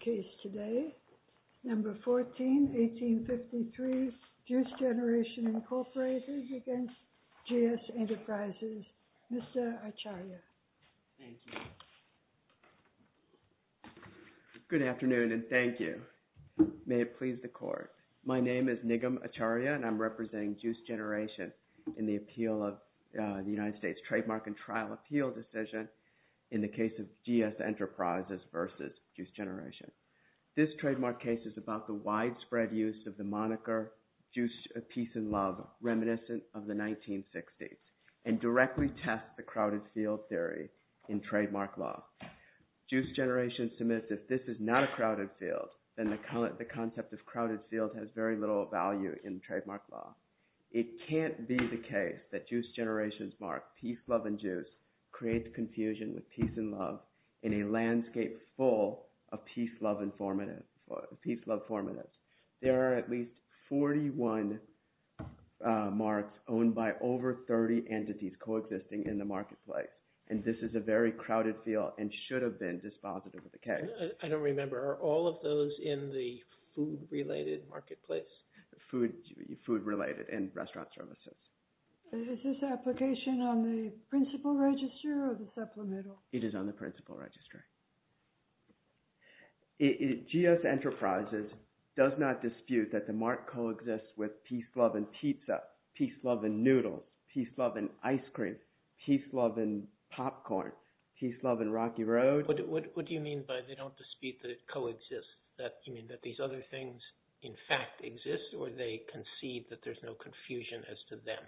Case today, No. 14-1853, Juice Generation, Inc. v. GS Enterprises, Mr. Acharya. Thank you. Good afternoon and thank you. May it please the court. My name is Nigam Acharya and I'm representing Juice Generation in the appeal of the United States Trademark and Trial Appeal Decision in the case of GS Enterprises v. Juice Generation. This trademark case is about the widespread use of the moniker, Peace and Love, reminiscent of the 1960s, and directly tests the crowded field theory in trademark law. Juice Generation submits that if this is not a crowded field, then the concept of crowded field has very little value in trademark law. It can't be the case that Juice Generation's mark, Peace, Love, and Juice, creates confusion with Peace and Love in a landscape full of Peace, Love formatives. There are at least 41 marks owned by over 30 entities coexisting in the marketplace, and this is a very crowded field and should have been dispositive of the case. I don't remember. Are all of those in the food-related marketplace? Food-related and restaurant services. Is this application on the principal register or the supplemental? It is on the principal register. GS Enterprises does not dispute that the mark coexists with Peace, Love, and Pizza, Peace, Love, and Noodle, Peace, Love, and Ice Cream, Peace, Love, and Popcorn, Peace, Love, and Rocky Road. What do you mean by they don't dispute that it coexists? You mean that these other things, in fact, exist, or they concede that there's no confusion as to them?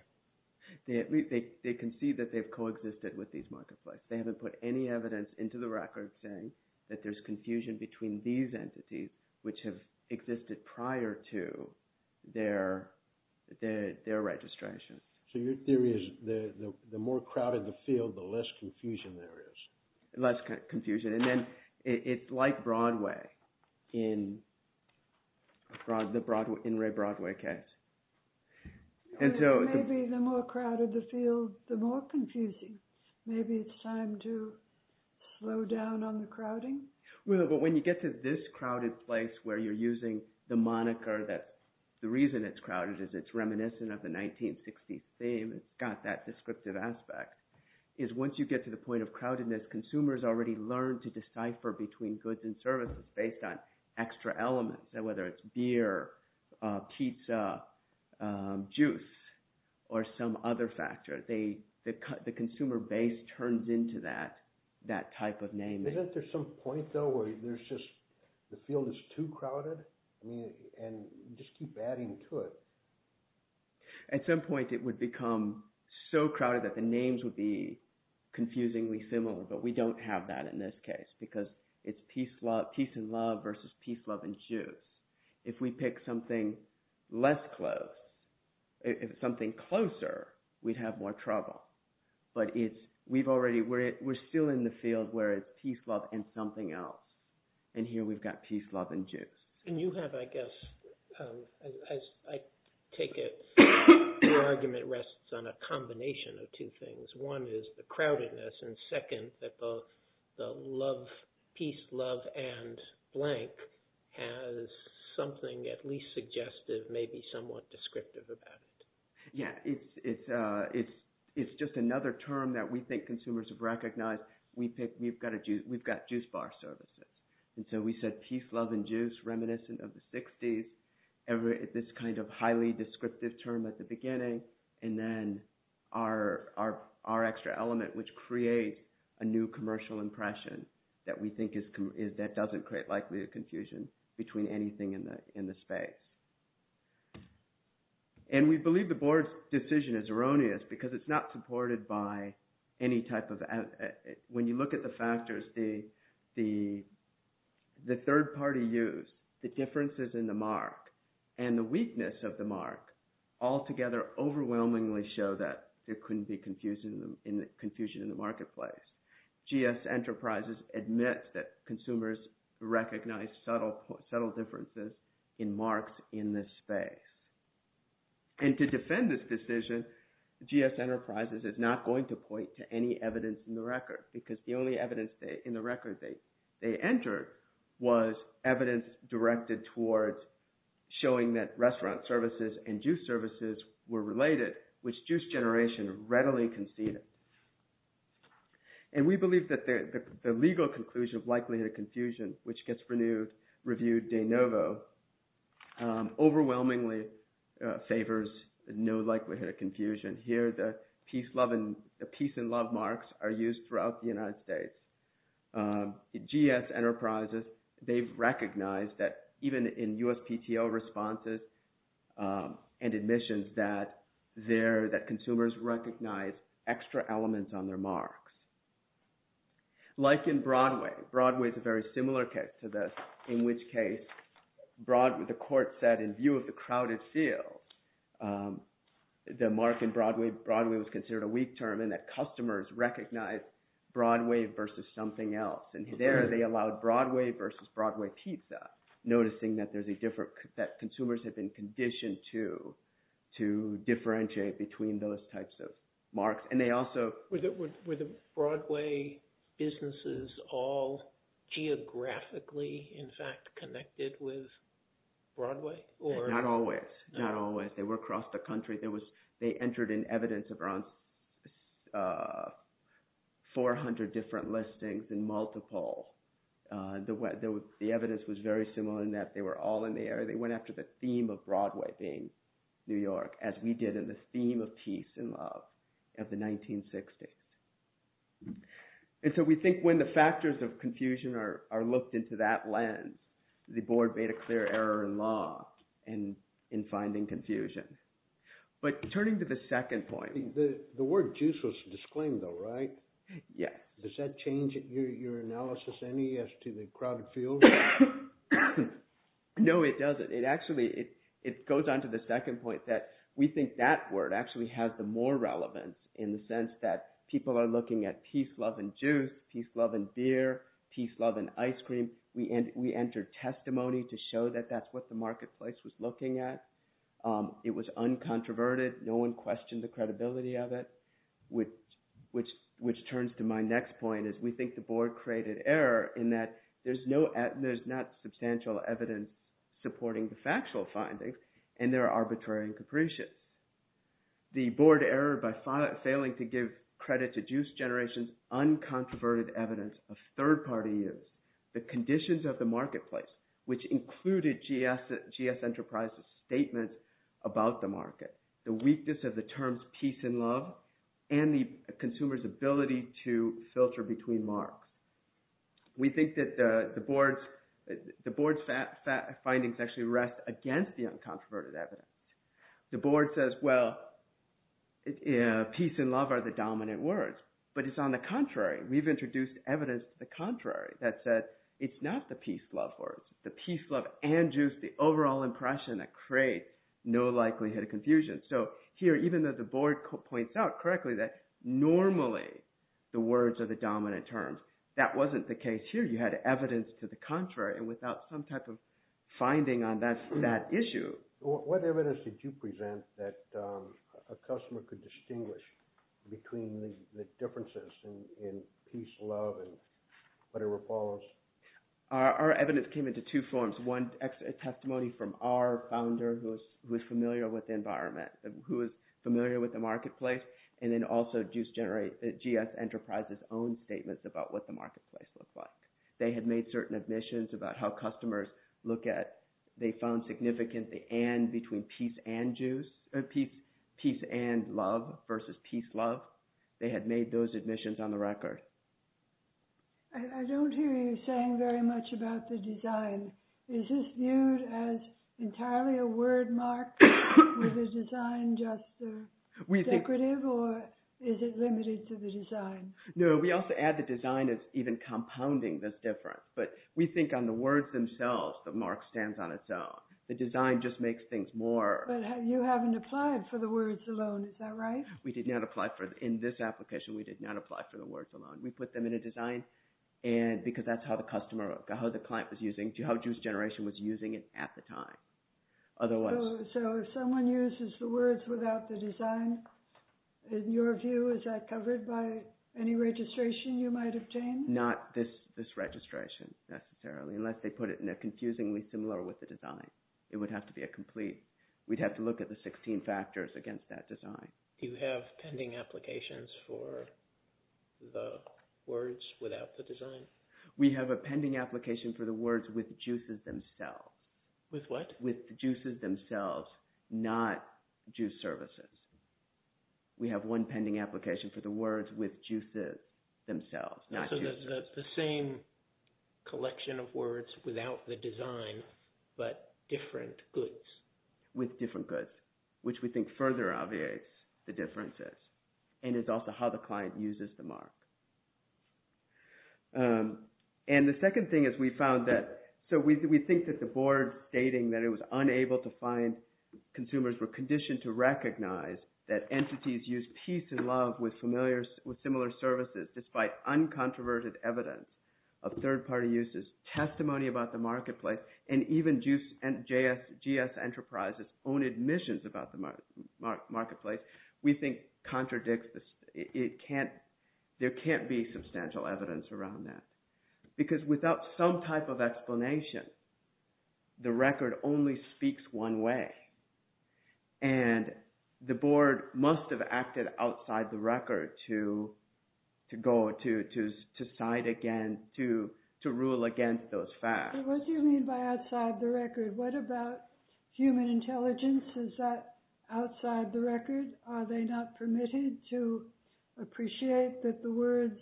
They concede that they've coexisted with these marketplaces. They haven't put any evidence into the record saying that there's confusion between these entities, which have existed prior to their registration. So your theory is the more crowded the field, the less confusion there is? Less confusion. And then it's like Broadway in the In Re Broadway case. Maybe the more crowded the field, the more confusing. Maybe it's time to slow down on the crowding? Well, but when you get to this crowded place where you're using the moniker that, the reason it's crowded is it's reminiscent of the 1960s theme, it's got that descriptive aspect, is once you get to the point of crowdedness, consumers already learn to decipher between goods and services based on extra elements, whether it's beer, pizza, juice, or some other factor. The consumer base turns into that type of name. Isn't there some point though where there's just – the field is too crowded, and you just keep adding to it? At some point it would become so crowded that the names would be confusingly similar, but we don't have that in this case because it's peace and love versus peace, love, and juice. If we pick something less close, something closer, we'd have more trouble. But we've already – we're still in the field where it's peace, love, and something else. And here we've got peace, love, and juice. And you have, I guess, as I take it, your argument rests on a combination of two things. One is the crowdedness, and second, that the peace, love, and blank has something at least suggestive, maybe somewhat descriptive about it. Yeah, it's just another term that we think consumers have recognized. We've got juice bar services. And so we said peace, love, and juice reminiscent of the 60s, this kind of highly descriptive term at the beginning. And then our extra element, which creates a new commercial impression that we think is – that doesn't create likely a confusion between anything in the space. And we believe the board's decision is erroneous because it's not supported by any type of – the third-party use, the differences in the mark, and the weakness of the mark altogether overwhelmingly show that there couldn't be confusion in the marketplace. GS Enterprises admits that consumers recognize subtle differences in marks in this space. And to defend this decision, GS Enterprises is not going to point to any evidence in the record that they entered was evidence directed towards showing that restaurant services and juice services were related, which juice generation readily conceded. And we believe that the legal conclusion of likelihood of confusion, which gets reviewed de novo, overwhelmingly favors no likelihood of confusion. Here, the peace and love marks are used throughout the United States. GS Enterprises, they've recognized that even in USPTO responses and admissions that they're – that consumers recognize extra elements on their marks. Like in Broadway, Broadway is a very similar case to this, in which case the court said, in view of the crowded field, the mark in Broadway, Broadway was considered a weak term and that customers recognized Broadway versus something else. And there they allowed Broadway versus Broadway pizza, noticing that there's a difference – that consumers have been conditioned to differentiate between those types of marks. Were the Broadway businesses all geographically, in fact, connected with Broadway? Not always. Not always. They were across the country. They entered in evidence of around 400 different listings in multiple – the evidence was very similar in that they were all in the area. They went after the theme of Broadway being New York as we did in the theme of peace and love of the 1960s. And so we think when the factors of confusion are looked into that lens, the board made a clear error in law in finding confusion. But turning to the second point – The word juice was disclaimed though, right? Yeah. Does that change your analysis any as to the crowded field? No, it doesn't. It actually – it goes on to the second point that we think that word actually has the more relevance in the sense that people are looking at peace, love, and juice, peace, love, and beer, peace, love, and ice cream. We entered testimony to show that that's what the marketplace was looking at. It was uncontroverted. No one questioned the credibility of it, which turns to my next point is we think the board created error in that there's not substantial evidence supporting the factual findings, and they're arbitrary and capricious. The board errored by failing to give credit to juice generation's uncontroverted evidence of third-party use, the conditions of the marketplace, which included GS Enterprises' statements about the market, the weakness of the terms peace and love, and the consumer's ability to filter between marks. We think that the board's findings actually rest against the uncontroverted evidence. The board says, well, peace and love are the dominant words, but it's on the contrary. We've introduced evidence to the contrary that says it's not the peace, love words. The peace, love, and juice, the overall impression that creates no likelihood of confusion. So here, even though the board points out correctly that normally the words are the dominant terms, that wasn't the case here. You had evidence to the contrary, and without some type of finding on that issue. What evidence did you present that a customer could distinguish between the differences in peace, love, and whatever follows? Our evidence came into two forms. One, a testimony from our founder who was familiar with the environment, who was familiar with the marketplace, and then also GS Enterprises' own statements about what the marketplace looked like. They had made certain admissions about how customers look at – they found significant the and between peace and juice – peace and love versus peace, love. They had made those admissions on the record. I don't hear you saying very much about the design. Is this viewed as entirely a word mark? Is the design just decorative, or is it limited to the design? No, we also add the design as even compounding this difference. But we think on the words themselves, the mark stands on its own. The design just makes things more – But you haven't applied for the words alone, is that right? We did not apply for – in this application, we did not apply for the words alone. We put them in a design because that's how the customer – how the client was using – how Juice Generation was using it at the time. So if someone uses the words without the design, in your view, is that covered by any registration you might obtain? Not this registration, necessarily, unless they put it in a confusingly similar with the design. It would have to be a complete – we'd have to look at the 16 factors against that design. Do you have pending applications for the words without the design? We have a pending application for the words with juices themselves. With what? With juices themselves, not juice services. We have one pending application for the words with juices themselves, not juices. So the same collection of words without the design, but different goods? With different goods, which we think further obviates the differences and is also how the client uses the mark. And the second thing is we found that – so we think that the board stating that it was unable to find – consumers were conditioned to recognize that entities use peace and love with familiar – with similar services despite uncontroverted evidence of third-party uses, testimony about the marketplace, and even GS Enterprises' own admissions about the marketplace, we think contradicts – it can't – there can't be substantial evidence around that. Because without some type of explanation, the record only speaks one way. And the board must have acted outside the record to go – to side against – to rule against those facts. What do you mean by outside the record? What about human intelligence? Is that outside the record? Are they not permitted to appreciate that the words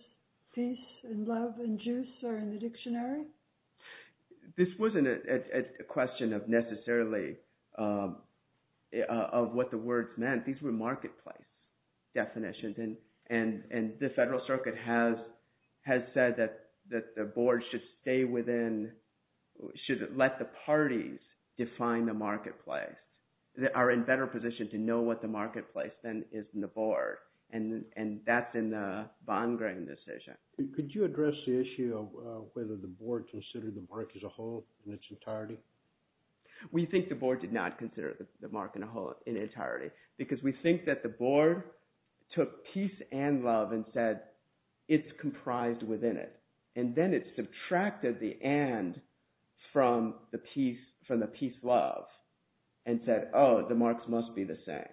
peace and love and juice are in the dictionary? This wasn't a question of necessarily of what the words meant. These were marketplace definitions. And the Federal Circuit has said that the board should stay within – should let the parties define the marketplace. They are in better position to know what the marketplace then is in the board. And that's in the von Gregg decision. Could you address the issue of whether the board considered the mark as a whole in its entirety? We think the board did not consider the mark in its entirety because we think that the board took peace and love and said it's comprised within it. And then it subtracted the and from the peace love and said, oh, the marks must be the same.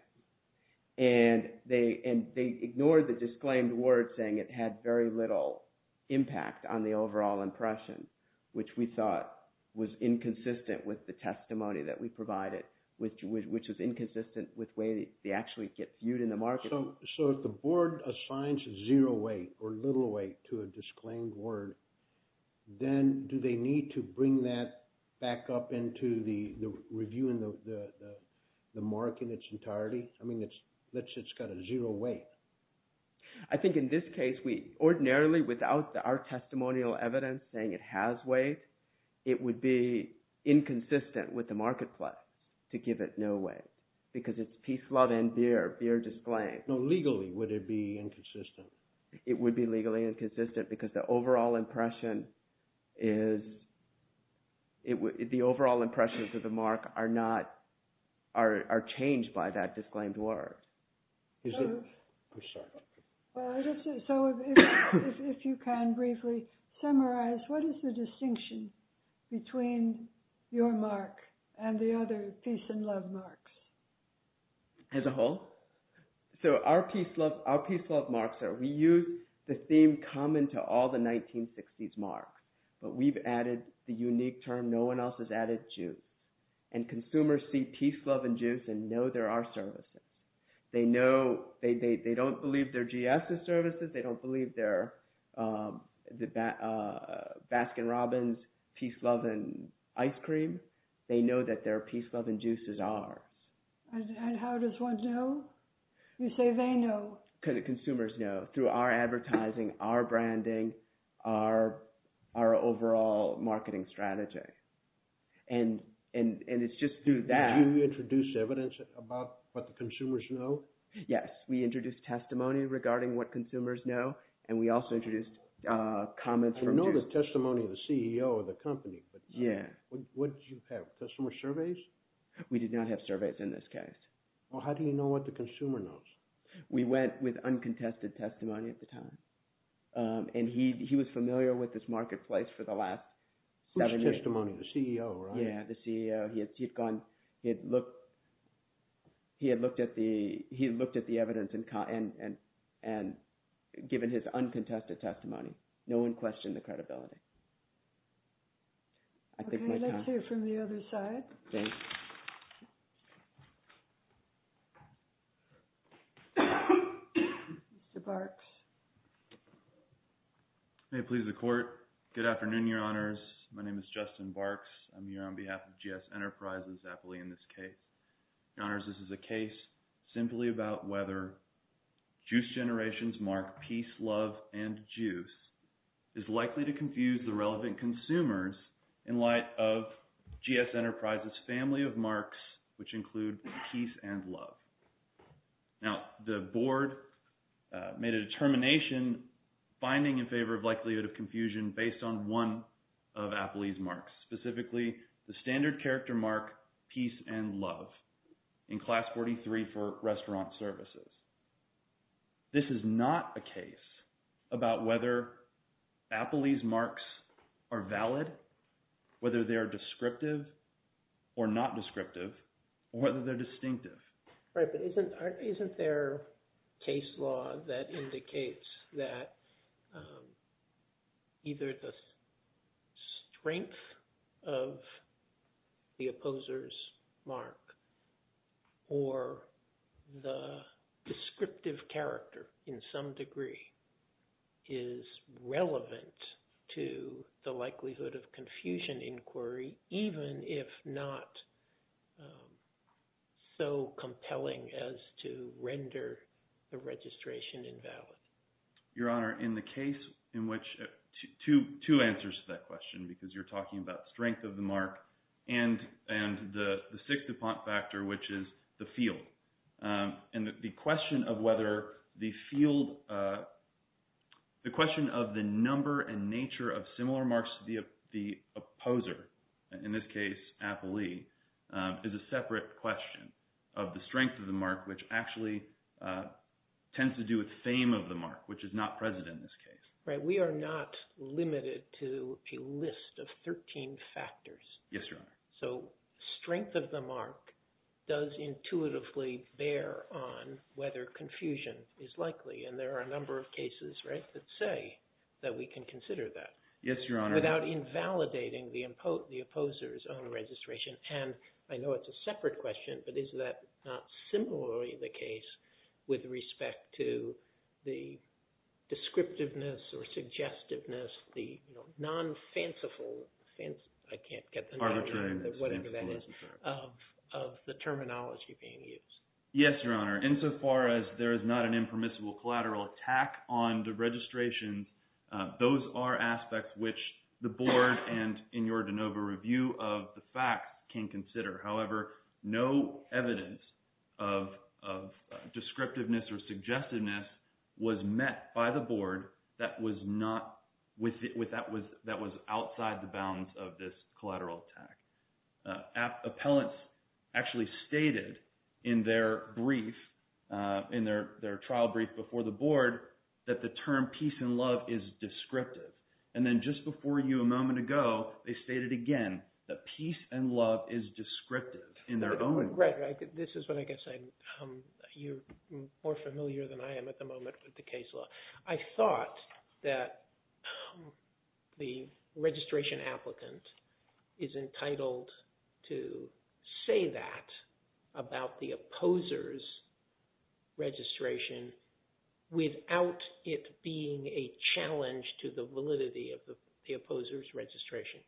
And they ignored the disclaimed word saying it had very little impact on the overall impression, which we thought was inconsistent with the testimony that we provided, which was inconsistent with the way they actually get viewed in the market. So if the board assigns zero weight or little weight to a disclaimed word, then do they need to bring that back up into the review in the mark in its entirety? I mean it's got a zero weight. I think in this case, we ordinarily, without our testimonial evidence saying it has weight, it would be inconsistent with the marketplace to give it no weight. Because it's peace, love, and beer, beer disclaimed. No, legally, would it be inconsistent? It would be legally inconsistent because the overall impression is, the overall impressions of the mark are not, are changed by that disclaimed word. So if you can briefly summarize, what is the distinction between your mark and the other peace and love marks? As a whole? So our peace love marks are, we use the theme common to all the 1960s marks. But we've added the unique term, no one else has added juice. And consumers see peace, love, and juice and know there are services. They know, they don't believe their GS's services, they don't believe their Baskin-Robbins peace, love, and ice cream. They know that their peace, love, and juices are. And how does one know? You say they know. Consumers know through our advertising, our branding, our overall marketing strategy. And it's just through that. Did you introduce evidence about what the consumers know? Yes, we introduced testimony regarding what consumers know, and we also introduced comments from juice. I know the testimony of the CEO of the company, but what did you have, customer surveys? We did not have surveys in this case. Well, how do you know what the consumer knows? We went with uncontested testimony at the time. And he was familiar with this marketplace for the last seven years. Uncontested testimony, the CEO, right? Yeah, the CEO. He had looked at the evidence and given his uncontested testimony. No one questioned the credibility. Okay, let's hear from the other side. Okay. Mr. Barks. May it please the court. Good afternoon, Your Honors. My name is Justin Barks. I'm here on behalf of GS Enterprises, aptly in this case. Your Honors, this is a case simply about whether Juice Generation's mark, Peace, Love, and Juice, is likely to confuse the relevant consumers in light of GS Enterprises' family of marks, which include Peace and Love. Now, the board made a determination finding in favor of likelihood of confusion based on one of Applee's marks, specifically the standard character mark, Peace and Love, in Class 43 for restaurant services. This is not a case about whether Applee's marks are valid, whether they are descriptive or not descriptive, or whether they're distinctive. Right, but isn't there case law that indicates that either the strength of the opposer's mark or the descriptive character in some degree is relevant to the likelihood of confusion inquiry, even if not so compelling as to render the registration invalid? Your Honor, in the case in which – two answers to that question because you're talking about strength of the mark and the sixth factor, which is the field. And the question of whether the field – the question of the number and nature of similar marks to the opposer, in this case Applee, is a separate question of the strength of the mark, which actually tends to do with fame of the mark, which is not present in this case. Right. We are not limited to a list of 13 factors. Yes, Your Honor. So strength of the mark does intuitively bear on whether confusion is likely. And there are a number of cases, right, that say that we can consider that. Yes, Your Honor. Without invalidating the opposer's own registration. And I know it's a separate question, but is that not similarly the case with respect to the descriptiveness or suggestiveness, the non-fanciful – I can't get the name of whatever that is – of the terminology being used? Yes, Your Honor. Insofar as there is not an impermissible collateral attack on the registration, those are aspects which the board and in your de novo review of the facts can consider. However, no evidence of descriptiveness or suggestiveness was met by the board that was not – that was outside the bounds of this collateral attack. Appellants actually stated in their brief, in their trial brief before the board, that the term peace and love is descriptive. And then just before you a moment ago, they stated again that peace and love is descriptive in their own – Right, right. This is what I guess I – you're more familiar than I am at the moment with the case law. I thought that the registration applicant is entitled to say that about the opposer's registration without it being a challenge to the validity of the opposer's registration.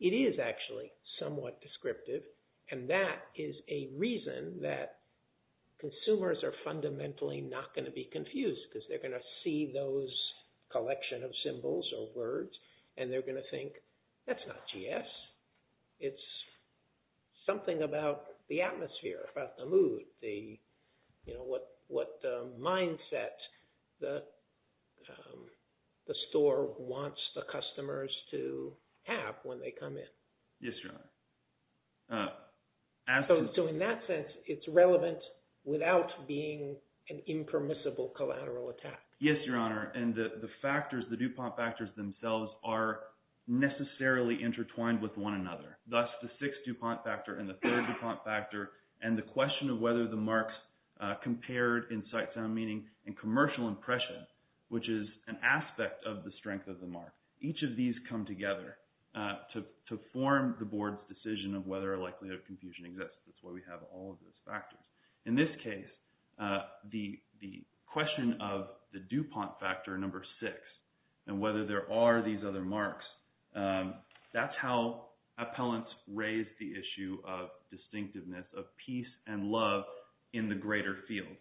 It is actually somewhat descriptive, and that is a reason that consumers are fundamentally not going to be confused because they're going to see those collection of symbols or words, and they're going to think that's not GS. It's something about the atmosphere, about the mood, what mindset the store wants the customers to have when they come in. Yes, Your Honor. So in that sense, it's relevant without being an impermissible collateral attack. Yes, Your Honor, and the factors, the DuPont factors themselves are necessarily intertwined with one another. Thus, the sixth DuPont factor and the third DuPont factor and the question of whether the marks compared in sight, sound, meaning, and commercial impression, which is an aspect of the strength of the mark. Each of these come together to form the board's decision of whether a likelihood of confusion exists. That's why we have all of those factors. In this case, the question of the DuPont factor number six and whether there are these other marks, that's how appellants raise the issue of distinctiveness of peace and love in the greater field.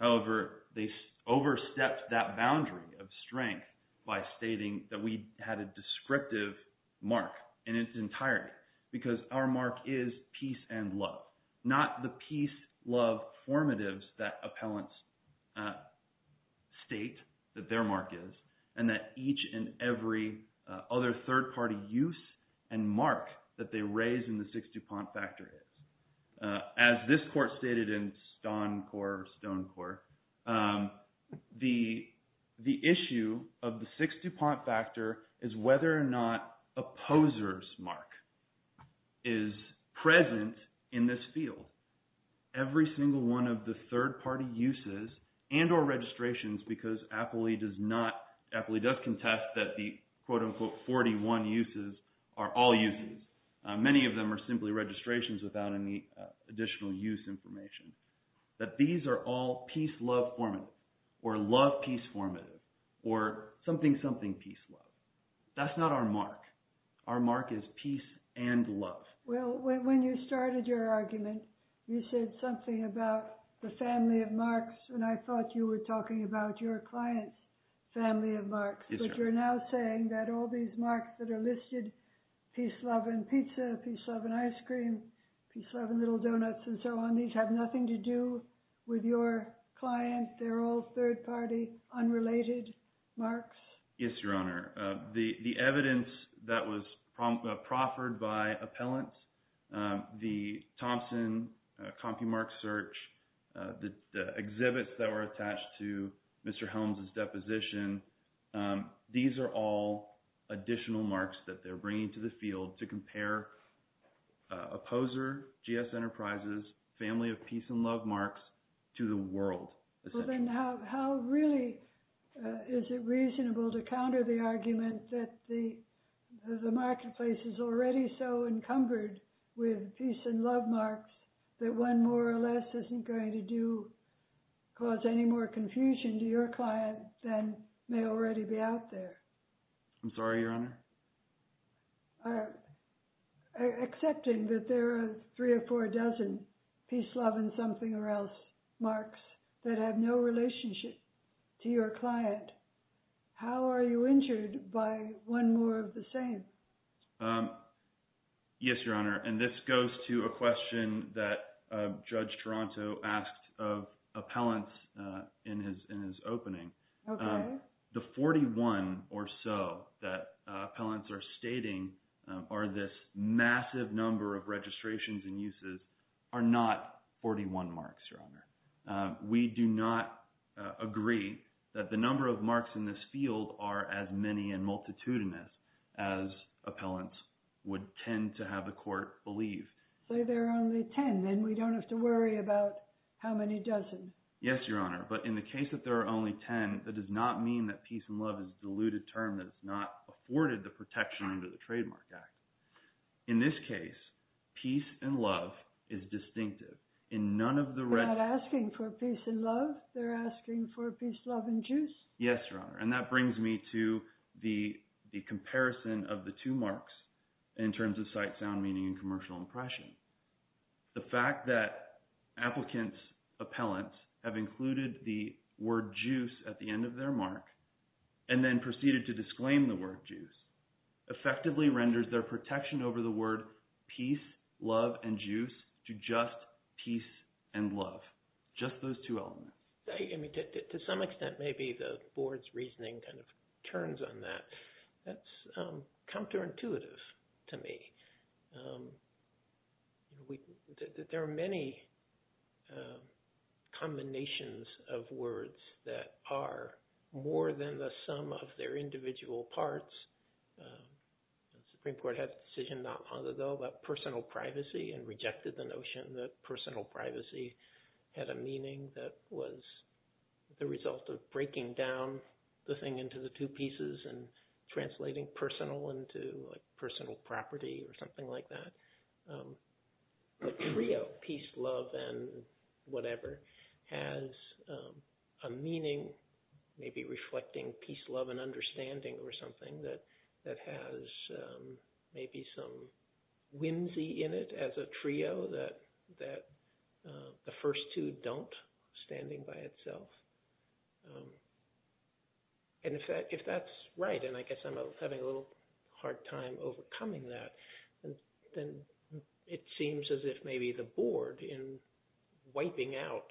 However, they overstepped that boundary of strength by stating that we had a descriptive mark in its entirety because our mark is peace and love, not the peace-love formatives that appellants state that their mark is and that each and every other third-party use and mark that they raise in the sixth DuPont factor is. As this court stated in Stonecourt, the issue of the sixth DuPont factor is whether or not a poser's mark is present in this field. Every single one of the third-party uses and or registrations because appellee does not – many of them are simply registrations without any additional use information, that these are all peace-love formative or love-peace formative or something-something peace-love. That's not our mark. Our mark is peace and love. Well, when you started your argument, you said something about the family of marks, and I thought you were talking about your client's family of marks. But you're now saying that all these marks that are listed – peace, love, and pizza, peace, love, and ice cream, peace, love, and little donuts and so on – these have nothing to do with your client. They're all third-party, unrelated marks. Yes, Your Honor. The evidence that was proffered by appellants, the Thompson copymark search, the exhibits that were attached to Mr. Helms' deposition, these are all additional marks that they're bringing to the field to compare a poser, GS Enterprises, family of peace and love marks to the world. Well, then how really is it reasonable to counter the argument that the marketplace is already so encumbered with peace and love marks that one more or less isn't going to do – cause any more confusion to your client than may already be out there? I'm sorry, Your Honor? Accepting that there are three or four dozen peace, love, and something-or-else marks that have no relationship to your client, how are you injured by one more of the same? Yes, Your Honor, and this goes to a question that Judge Toronto asked of appellants in his opening. Okay. The 41 or so that appellants are stating are this massive number of registrations and uses are not 41 marks, Your Honor. We do not agree that the number of marks in this field are as many and multitudinous as appellants would tend to have the court believe. Say there are only 10, then we don't have to worry about how many dozens. Yes, Your Honor, but in the case that there are only 10, that does not mean that peace and love is a diluted term that is not afforded the protection under the Trademark Act. In this case, peace and love is distinctive. They're not asking for peace and love. They're asking for peace, love, and juice. Yes, Your Honor, and that brings me to the comparison of the two marks in terms of sight, sound, meaning, and commercial impression. The fact that applicants' appellants have included the word juice at the end of their mark and then proceeded to disclaim the word juice effectively renders their protection over the word peace, love, and juice to just peace and love. Just those two elements. To some extent, maybe the board's reasoning kind of turns on that. That's counterintuitive to me. There are many combinations of words that are more than the sum of their individual parts. The Supreme Court had a decision not long ago about personal privacy and rejected the notion that personal privacy had a meaning that was the result of breaking down the thing into the two pieces and translating personal into personal property or something like that. The trio, peace, love, and whatever, has a meaning, maybe reflecting peace, love, and understanding or something that has maybe some whimsy in it as a trio that the first two don't, standing by itself. And if that's right, and I guess I'm having a little hard time overcoming that, then it seems as if maybe the board, in wiping out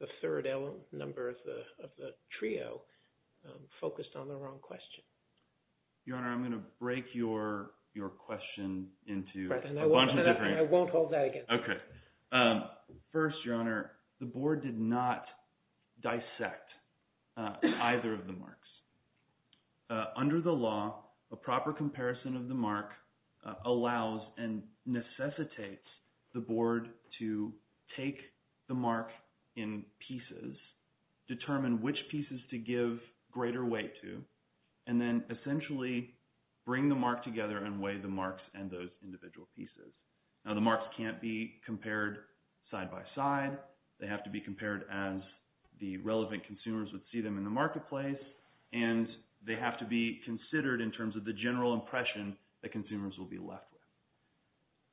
the third element number of the trio, focused on the wrong question. Your Honor, I'm going to break your question into a bunch of different – I won't hold that again. Okay. First, Your Honor, the board did not dissect either of the marks. And then essentially bring the mark together and weigh the marks and those individual pieces. Now, the marks can't be compared side by side. They have to be compared as the relevant consumers would see them in the marketplace, and they have to be considered in terms of the general impression that consumers will be left with.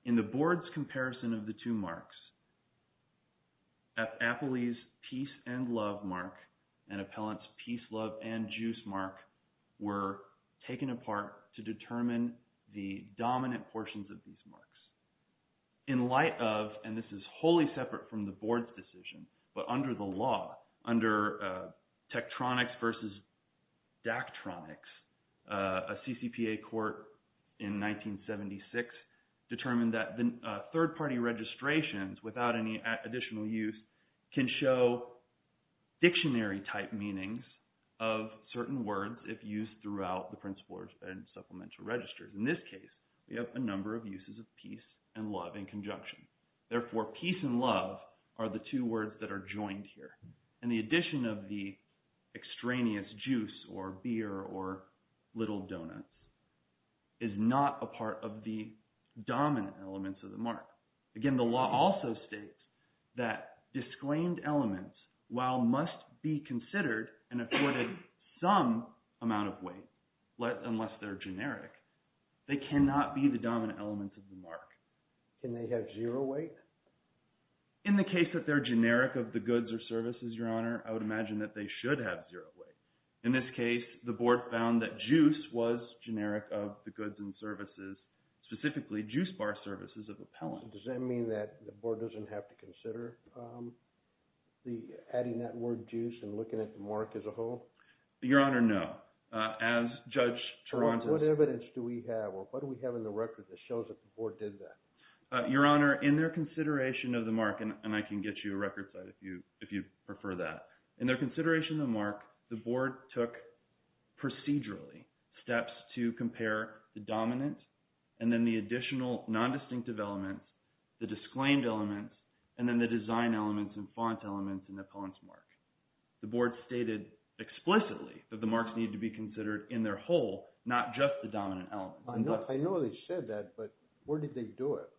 In the board's comparison of the two marks, Appley's peace and love mark and Appellant's peace, love, and juice mark were taken apart to determine the dominant portions of these marks. In light of – and this is wholly separate from the board's decision, but under the law, under Tektronix versus Daktronix, a CCPA court in 1976 determined that third-party registrations without any additional use can show dictionary-type meanings of certain words if used throughout the principals and supplemental registers. In this case, we have a number of uses of peace and love in conjunction. Therefore, peace and love are the two words that are joined here. And the addition of the extraneous juice or beer or little donuts is not a part of the dominant elements of the mark. Again, the law also states that disclaimed elements, while must be considered and afforded some amount of weight unless they're generic, they cannot be the dominant elements of the mark. Can they have zero weight? In the case that they're generic of the goods or services, Your Honor, I would imagine that they should have zero weight. In this case, the board found that juice was generic of the goods and services, specifically juice bar services of appellant. Does that mean that the board doesn't have to consider adding that word juice and looking at the mark as a whole? Your Honor, no. As Judge Toronto's – What evidence do we have or what do we have in the record that shows that the board did that? Your Honor, in their consideration of the mark – and I can get you a record site if you prefer that. In their consideration of the mark, the board took procedurally steps to compare the dominant and then the additional nondistinctive elements, the disclaimed elements, and then the design elements and font elements in the appellant's mark. The board stated explicitly that the marks need to be considered in their whole, not just the dominant elements. I know they said that, but where did they do it?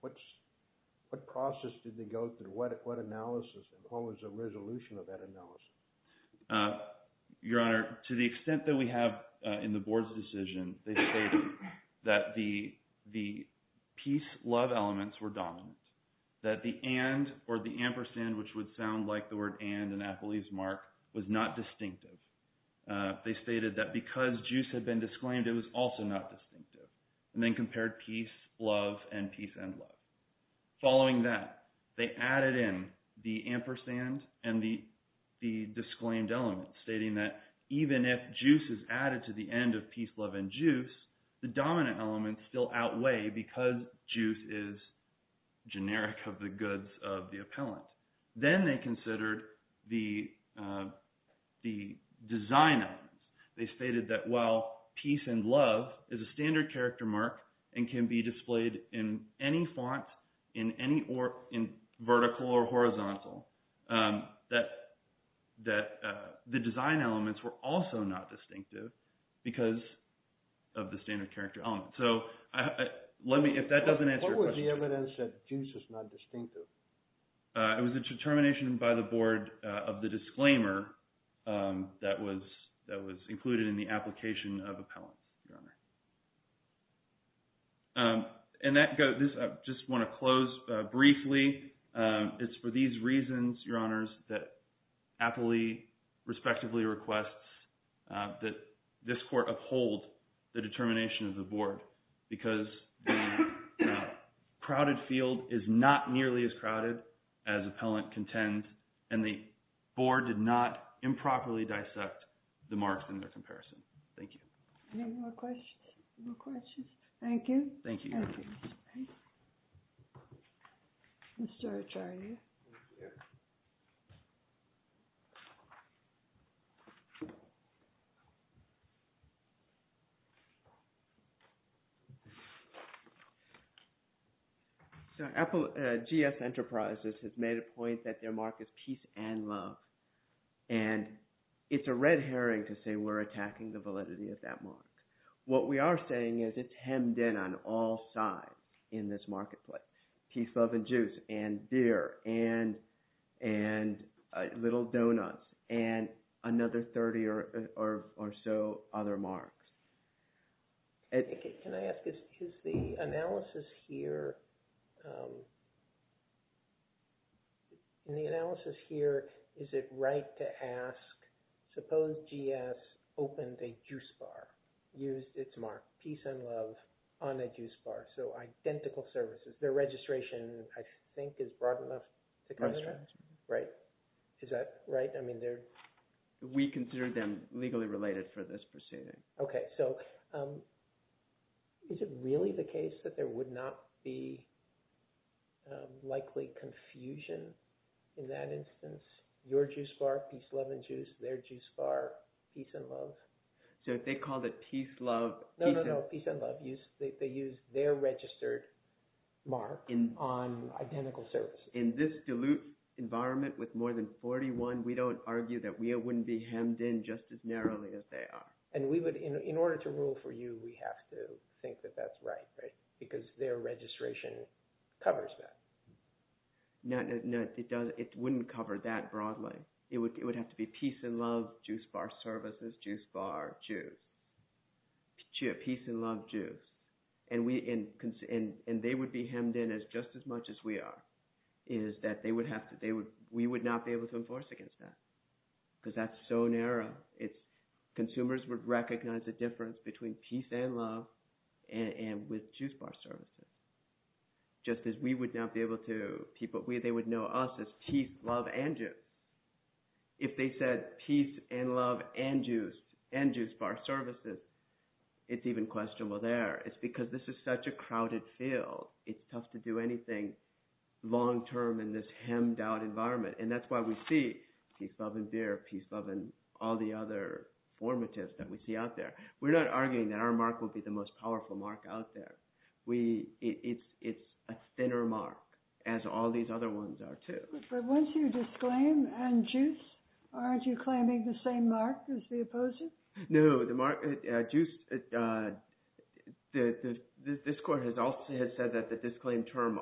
What process did they go through? What analysis and what was the resolution of that analysis? Your Honor, to the extent that we have in the board's decision, they stated that the piece love elements were dominant, that the and or the ampersand, which would sound like the word and in appellee's mark, was not distinctive. They stated that because juice had been disclaimed, it was also not distinctive, and then compared piece love and piece end love. Following that, they added in the ampersand and the disclaimed element, stating that even if juice is added to the end of piece love and juice, the dominant elements still outweigh because juice is generic of the goods of the appellant. Then they considered the design elements. They stated that while piece and love is a standard character mark and can be displayed in any font, in any vertical or horizontal, that the design elements were also not distinctive because of the standard character element. So let me – if that doesn't answer your question. What was the evidence that juice is not distinctive? It was a determination by the board of the disclaimer that was included in the application of appellant, Your Honor. And that – I just want to close briefly. It's for these reasons, Your Honors, that appellee respectively requests that this court uphold the determination of the board because the crowded field is not nearly as crowded as appellant contend, and the board did not improperly dissect the marks in their comparison. Thank you. Any more questions? No questions? Thank you. Thank you, Your Honor. Thank you. Mr. Acharya. Thank you. Thank you. So GS Enterprises has made a point that their mark is piece and love, and it's a red herring to say we're attacking the validity of that mark. What we are saying is it's hemmed in on all sides in this marketplace, piece, love, and juice, and deer, and little donuts, and another 30 or so other marks. Can I ask, is the analysis here – in the analysis here, is it right to ask, suppose GS opened a juice bar, used its mark, piece and love, on a juice bar? So identical services. Their registration, I think, is broad enough to cover that. Right? Is that right? I mean, they're – We consider them legally related for this proceeding. Okay. So is it really the case that there would not be likely confusion in that instance? Your juice bar, piece, love, and juice, their juice bar, piece and love? So if they called it piece, love – No, no, no. Piece and love. They used their registered mark on identical services. In this dilute environment with more than 41, we don't argue that we wouldn't be hemmed in just as narrowly as they are. And we would – in order to rule for you, we have to think that that's right, right? Because their registration covers that. No, it doesn't. It wouldn't cover that broadly. It would have to be piece and love, juice bar services, juice bar, juice. Piece and love, juice. And they would be hemmed in just as much as we are, is that they would have to – we would not be able to enforce against that because that's so narrow. Consumers would recognize the difference between piece and love and with juice bar services. Just as we would not be able to – they would know us as piece, love, and juice. If they said piece and love and juice, and juice bar services, it's even questionable there. It's because this is such a crowded field. It's tough to do anything long term in this hemmed out environment. And that's why we see piece, love, and beer, piece, love, and all the other formatives that we see out there. We're not arguing that our mark will be the most powerful mark out there. It's a thinner mark as all these other ones are too. But once you disclaim and juice, aren't you claiming the same mark as the opposers? No, the juice – this court has also said that the disclaim term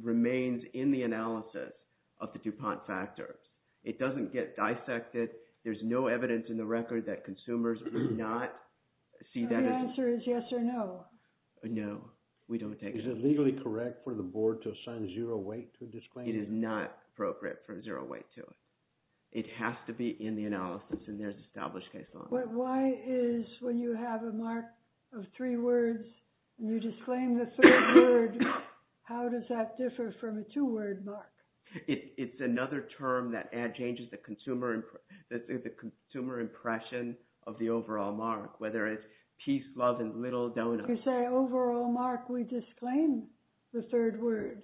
remains in the analysis of the DuPont factor. It doesn't get dissected. There's no evidence in the record that consumers do not see that as – So the answer is yes or no? No, we don't take – Is it legally correct for the board to assign zero weight to a disclaim? It is not appropriate for zero weight to it. It has to be in the analysis and there's established case law. But why is when you have a mark of three words and you disclaim the third word, how does that differ from a two-word mark? It's another term that changes the consumer impression of the overall mark, whether it's piece, love, and little doughnuts. You say overall mark, we disclaim the third word.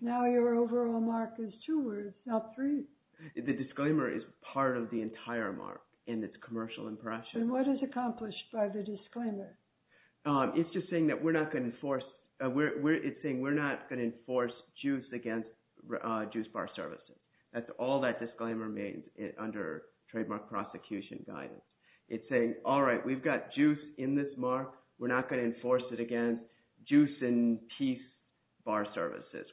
Now your overall mark is two words, not three. The disclaimer is part of the entire mark in its commercial impression. And what is accomplished by the disclaimer? It's just saying that we're not going to enforce – it's saying we're not going to enforce juice against juice bar services. That's all that disclaimer means under trademark prosecution guidance. It's saying, all right, we've got juice in this mark. We're not going to enforce it against juice and piece bar services.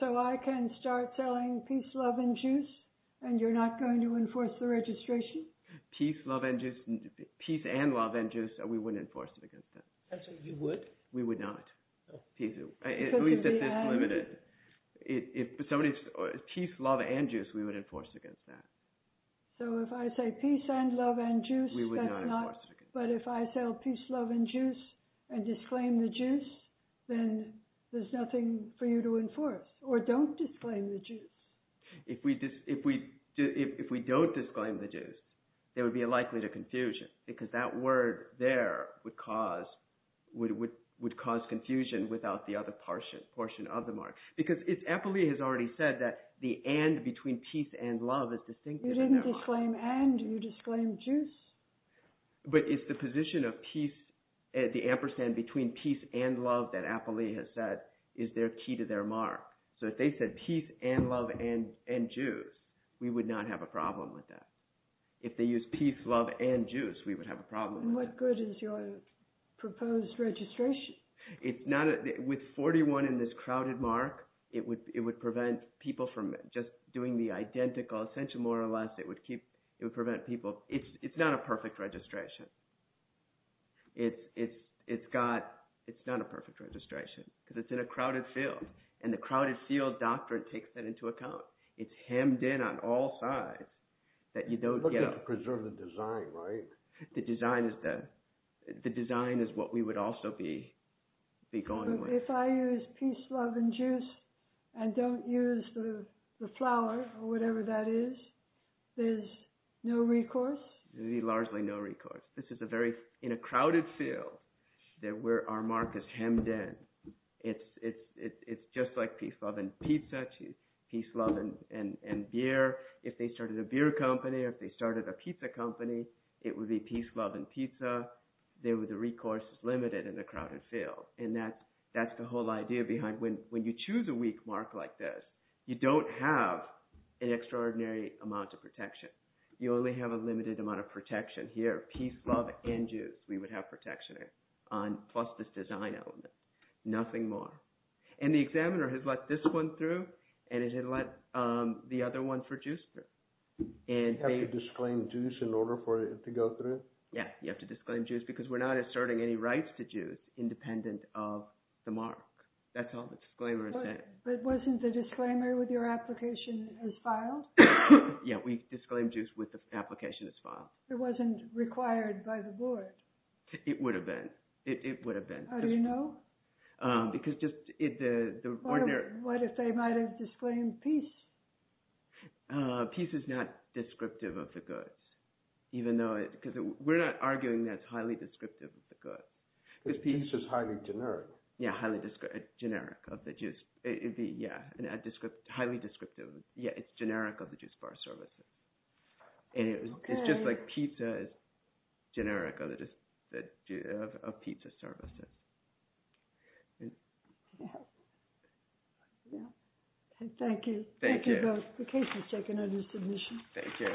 So I can start selling piece, love, and juice and you're not going to enforce the registration? Piece, love, and juice – piece and love and juice, we wouldn't enforce it against that. You would? We would not. At least if it's limited. If somebody – piece, love, and juice, we would enforce against that. So if I say piece and love and juice, that's not – Or don't disclaim the juice. If we don't disclaim the juice, there would be a likelihood of confusion. Because that word there would cause confusion without the other portion of the mark. Because Apolli has already said that the and between piece and love is distinctive in their mark. You didn't disclaim and, you disclaimed juice. But it's the position of piece, the ampersand between piece and love that Apolli has said is their key to their mark. So if they said piece and love and juice, we would not have a problem with that. If they used piece, love, and juice, we would have a problem with that. What good is your proposed registration? It's not – with 41 in this crowded mark, it would prevent people from just doing the identical. Essentially, more or less, it would keep – it would prevent people – It's not a perfect registration. It's got – it's not a perfect registration. Because it's in a crowded field. And the crowded field doctrine takes that into account. It's hemmed in on all sides that you don't get – But you have to preserve the design, right? The design is the – the design is what we would also be going with. So if I use piece, love, and juice and don't use the flower or whatever that is, there's no recourse? Largely no recourse. This is a very – in a crowded field that where our mark is hemmed in. It's just like piece, love, and pizza, piece, love, and beer. If they started a beer company or if they started a pizza company, it would be piece, love, and pizza. The recourse is limited in the crowded field. And that's the whole idea behind – when you choose a weak mark like this, you don't have an extraordinary amount of protection. You only have a limited amount of protection here. Piece, love, and juice, we would have protection here plus this design element. Nothing more. And the examiner has let this one through, and has let the other one for juice through. And they – You have to disclaim juice in order for it to go through? Yeah, you have to disclaim juice because we're not asserting any rights to juice independent of the mark. That's all the disclaimer is saying. But wasn't the disclaimer with your application as filed? Yeah, we disclaimed juice with the application as filed. It wasn't required by the board? It would have been. It would have been. How do you know? Because just the ordinary – What if they might have disclaimed piece? Piece is not descriptive of the goods, even though – because we're not arguing that it's highly descriptive of the goods. Because piece is highly generic. Yeah, highly generic of the juice. Yeah, highly descriptive. Yeah, it's generic of the juice bar services. And it's just like pizza is generic of pizza services. Yeah, yeah. Thank you. Thank you. Thank you both. The case is taken under submission. Thank you.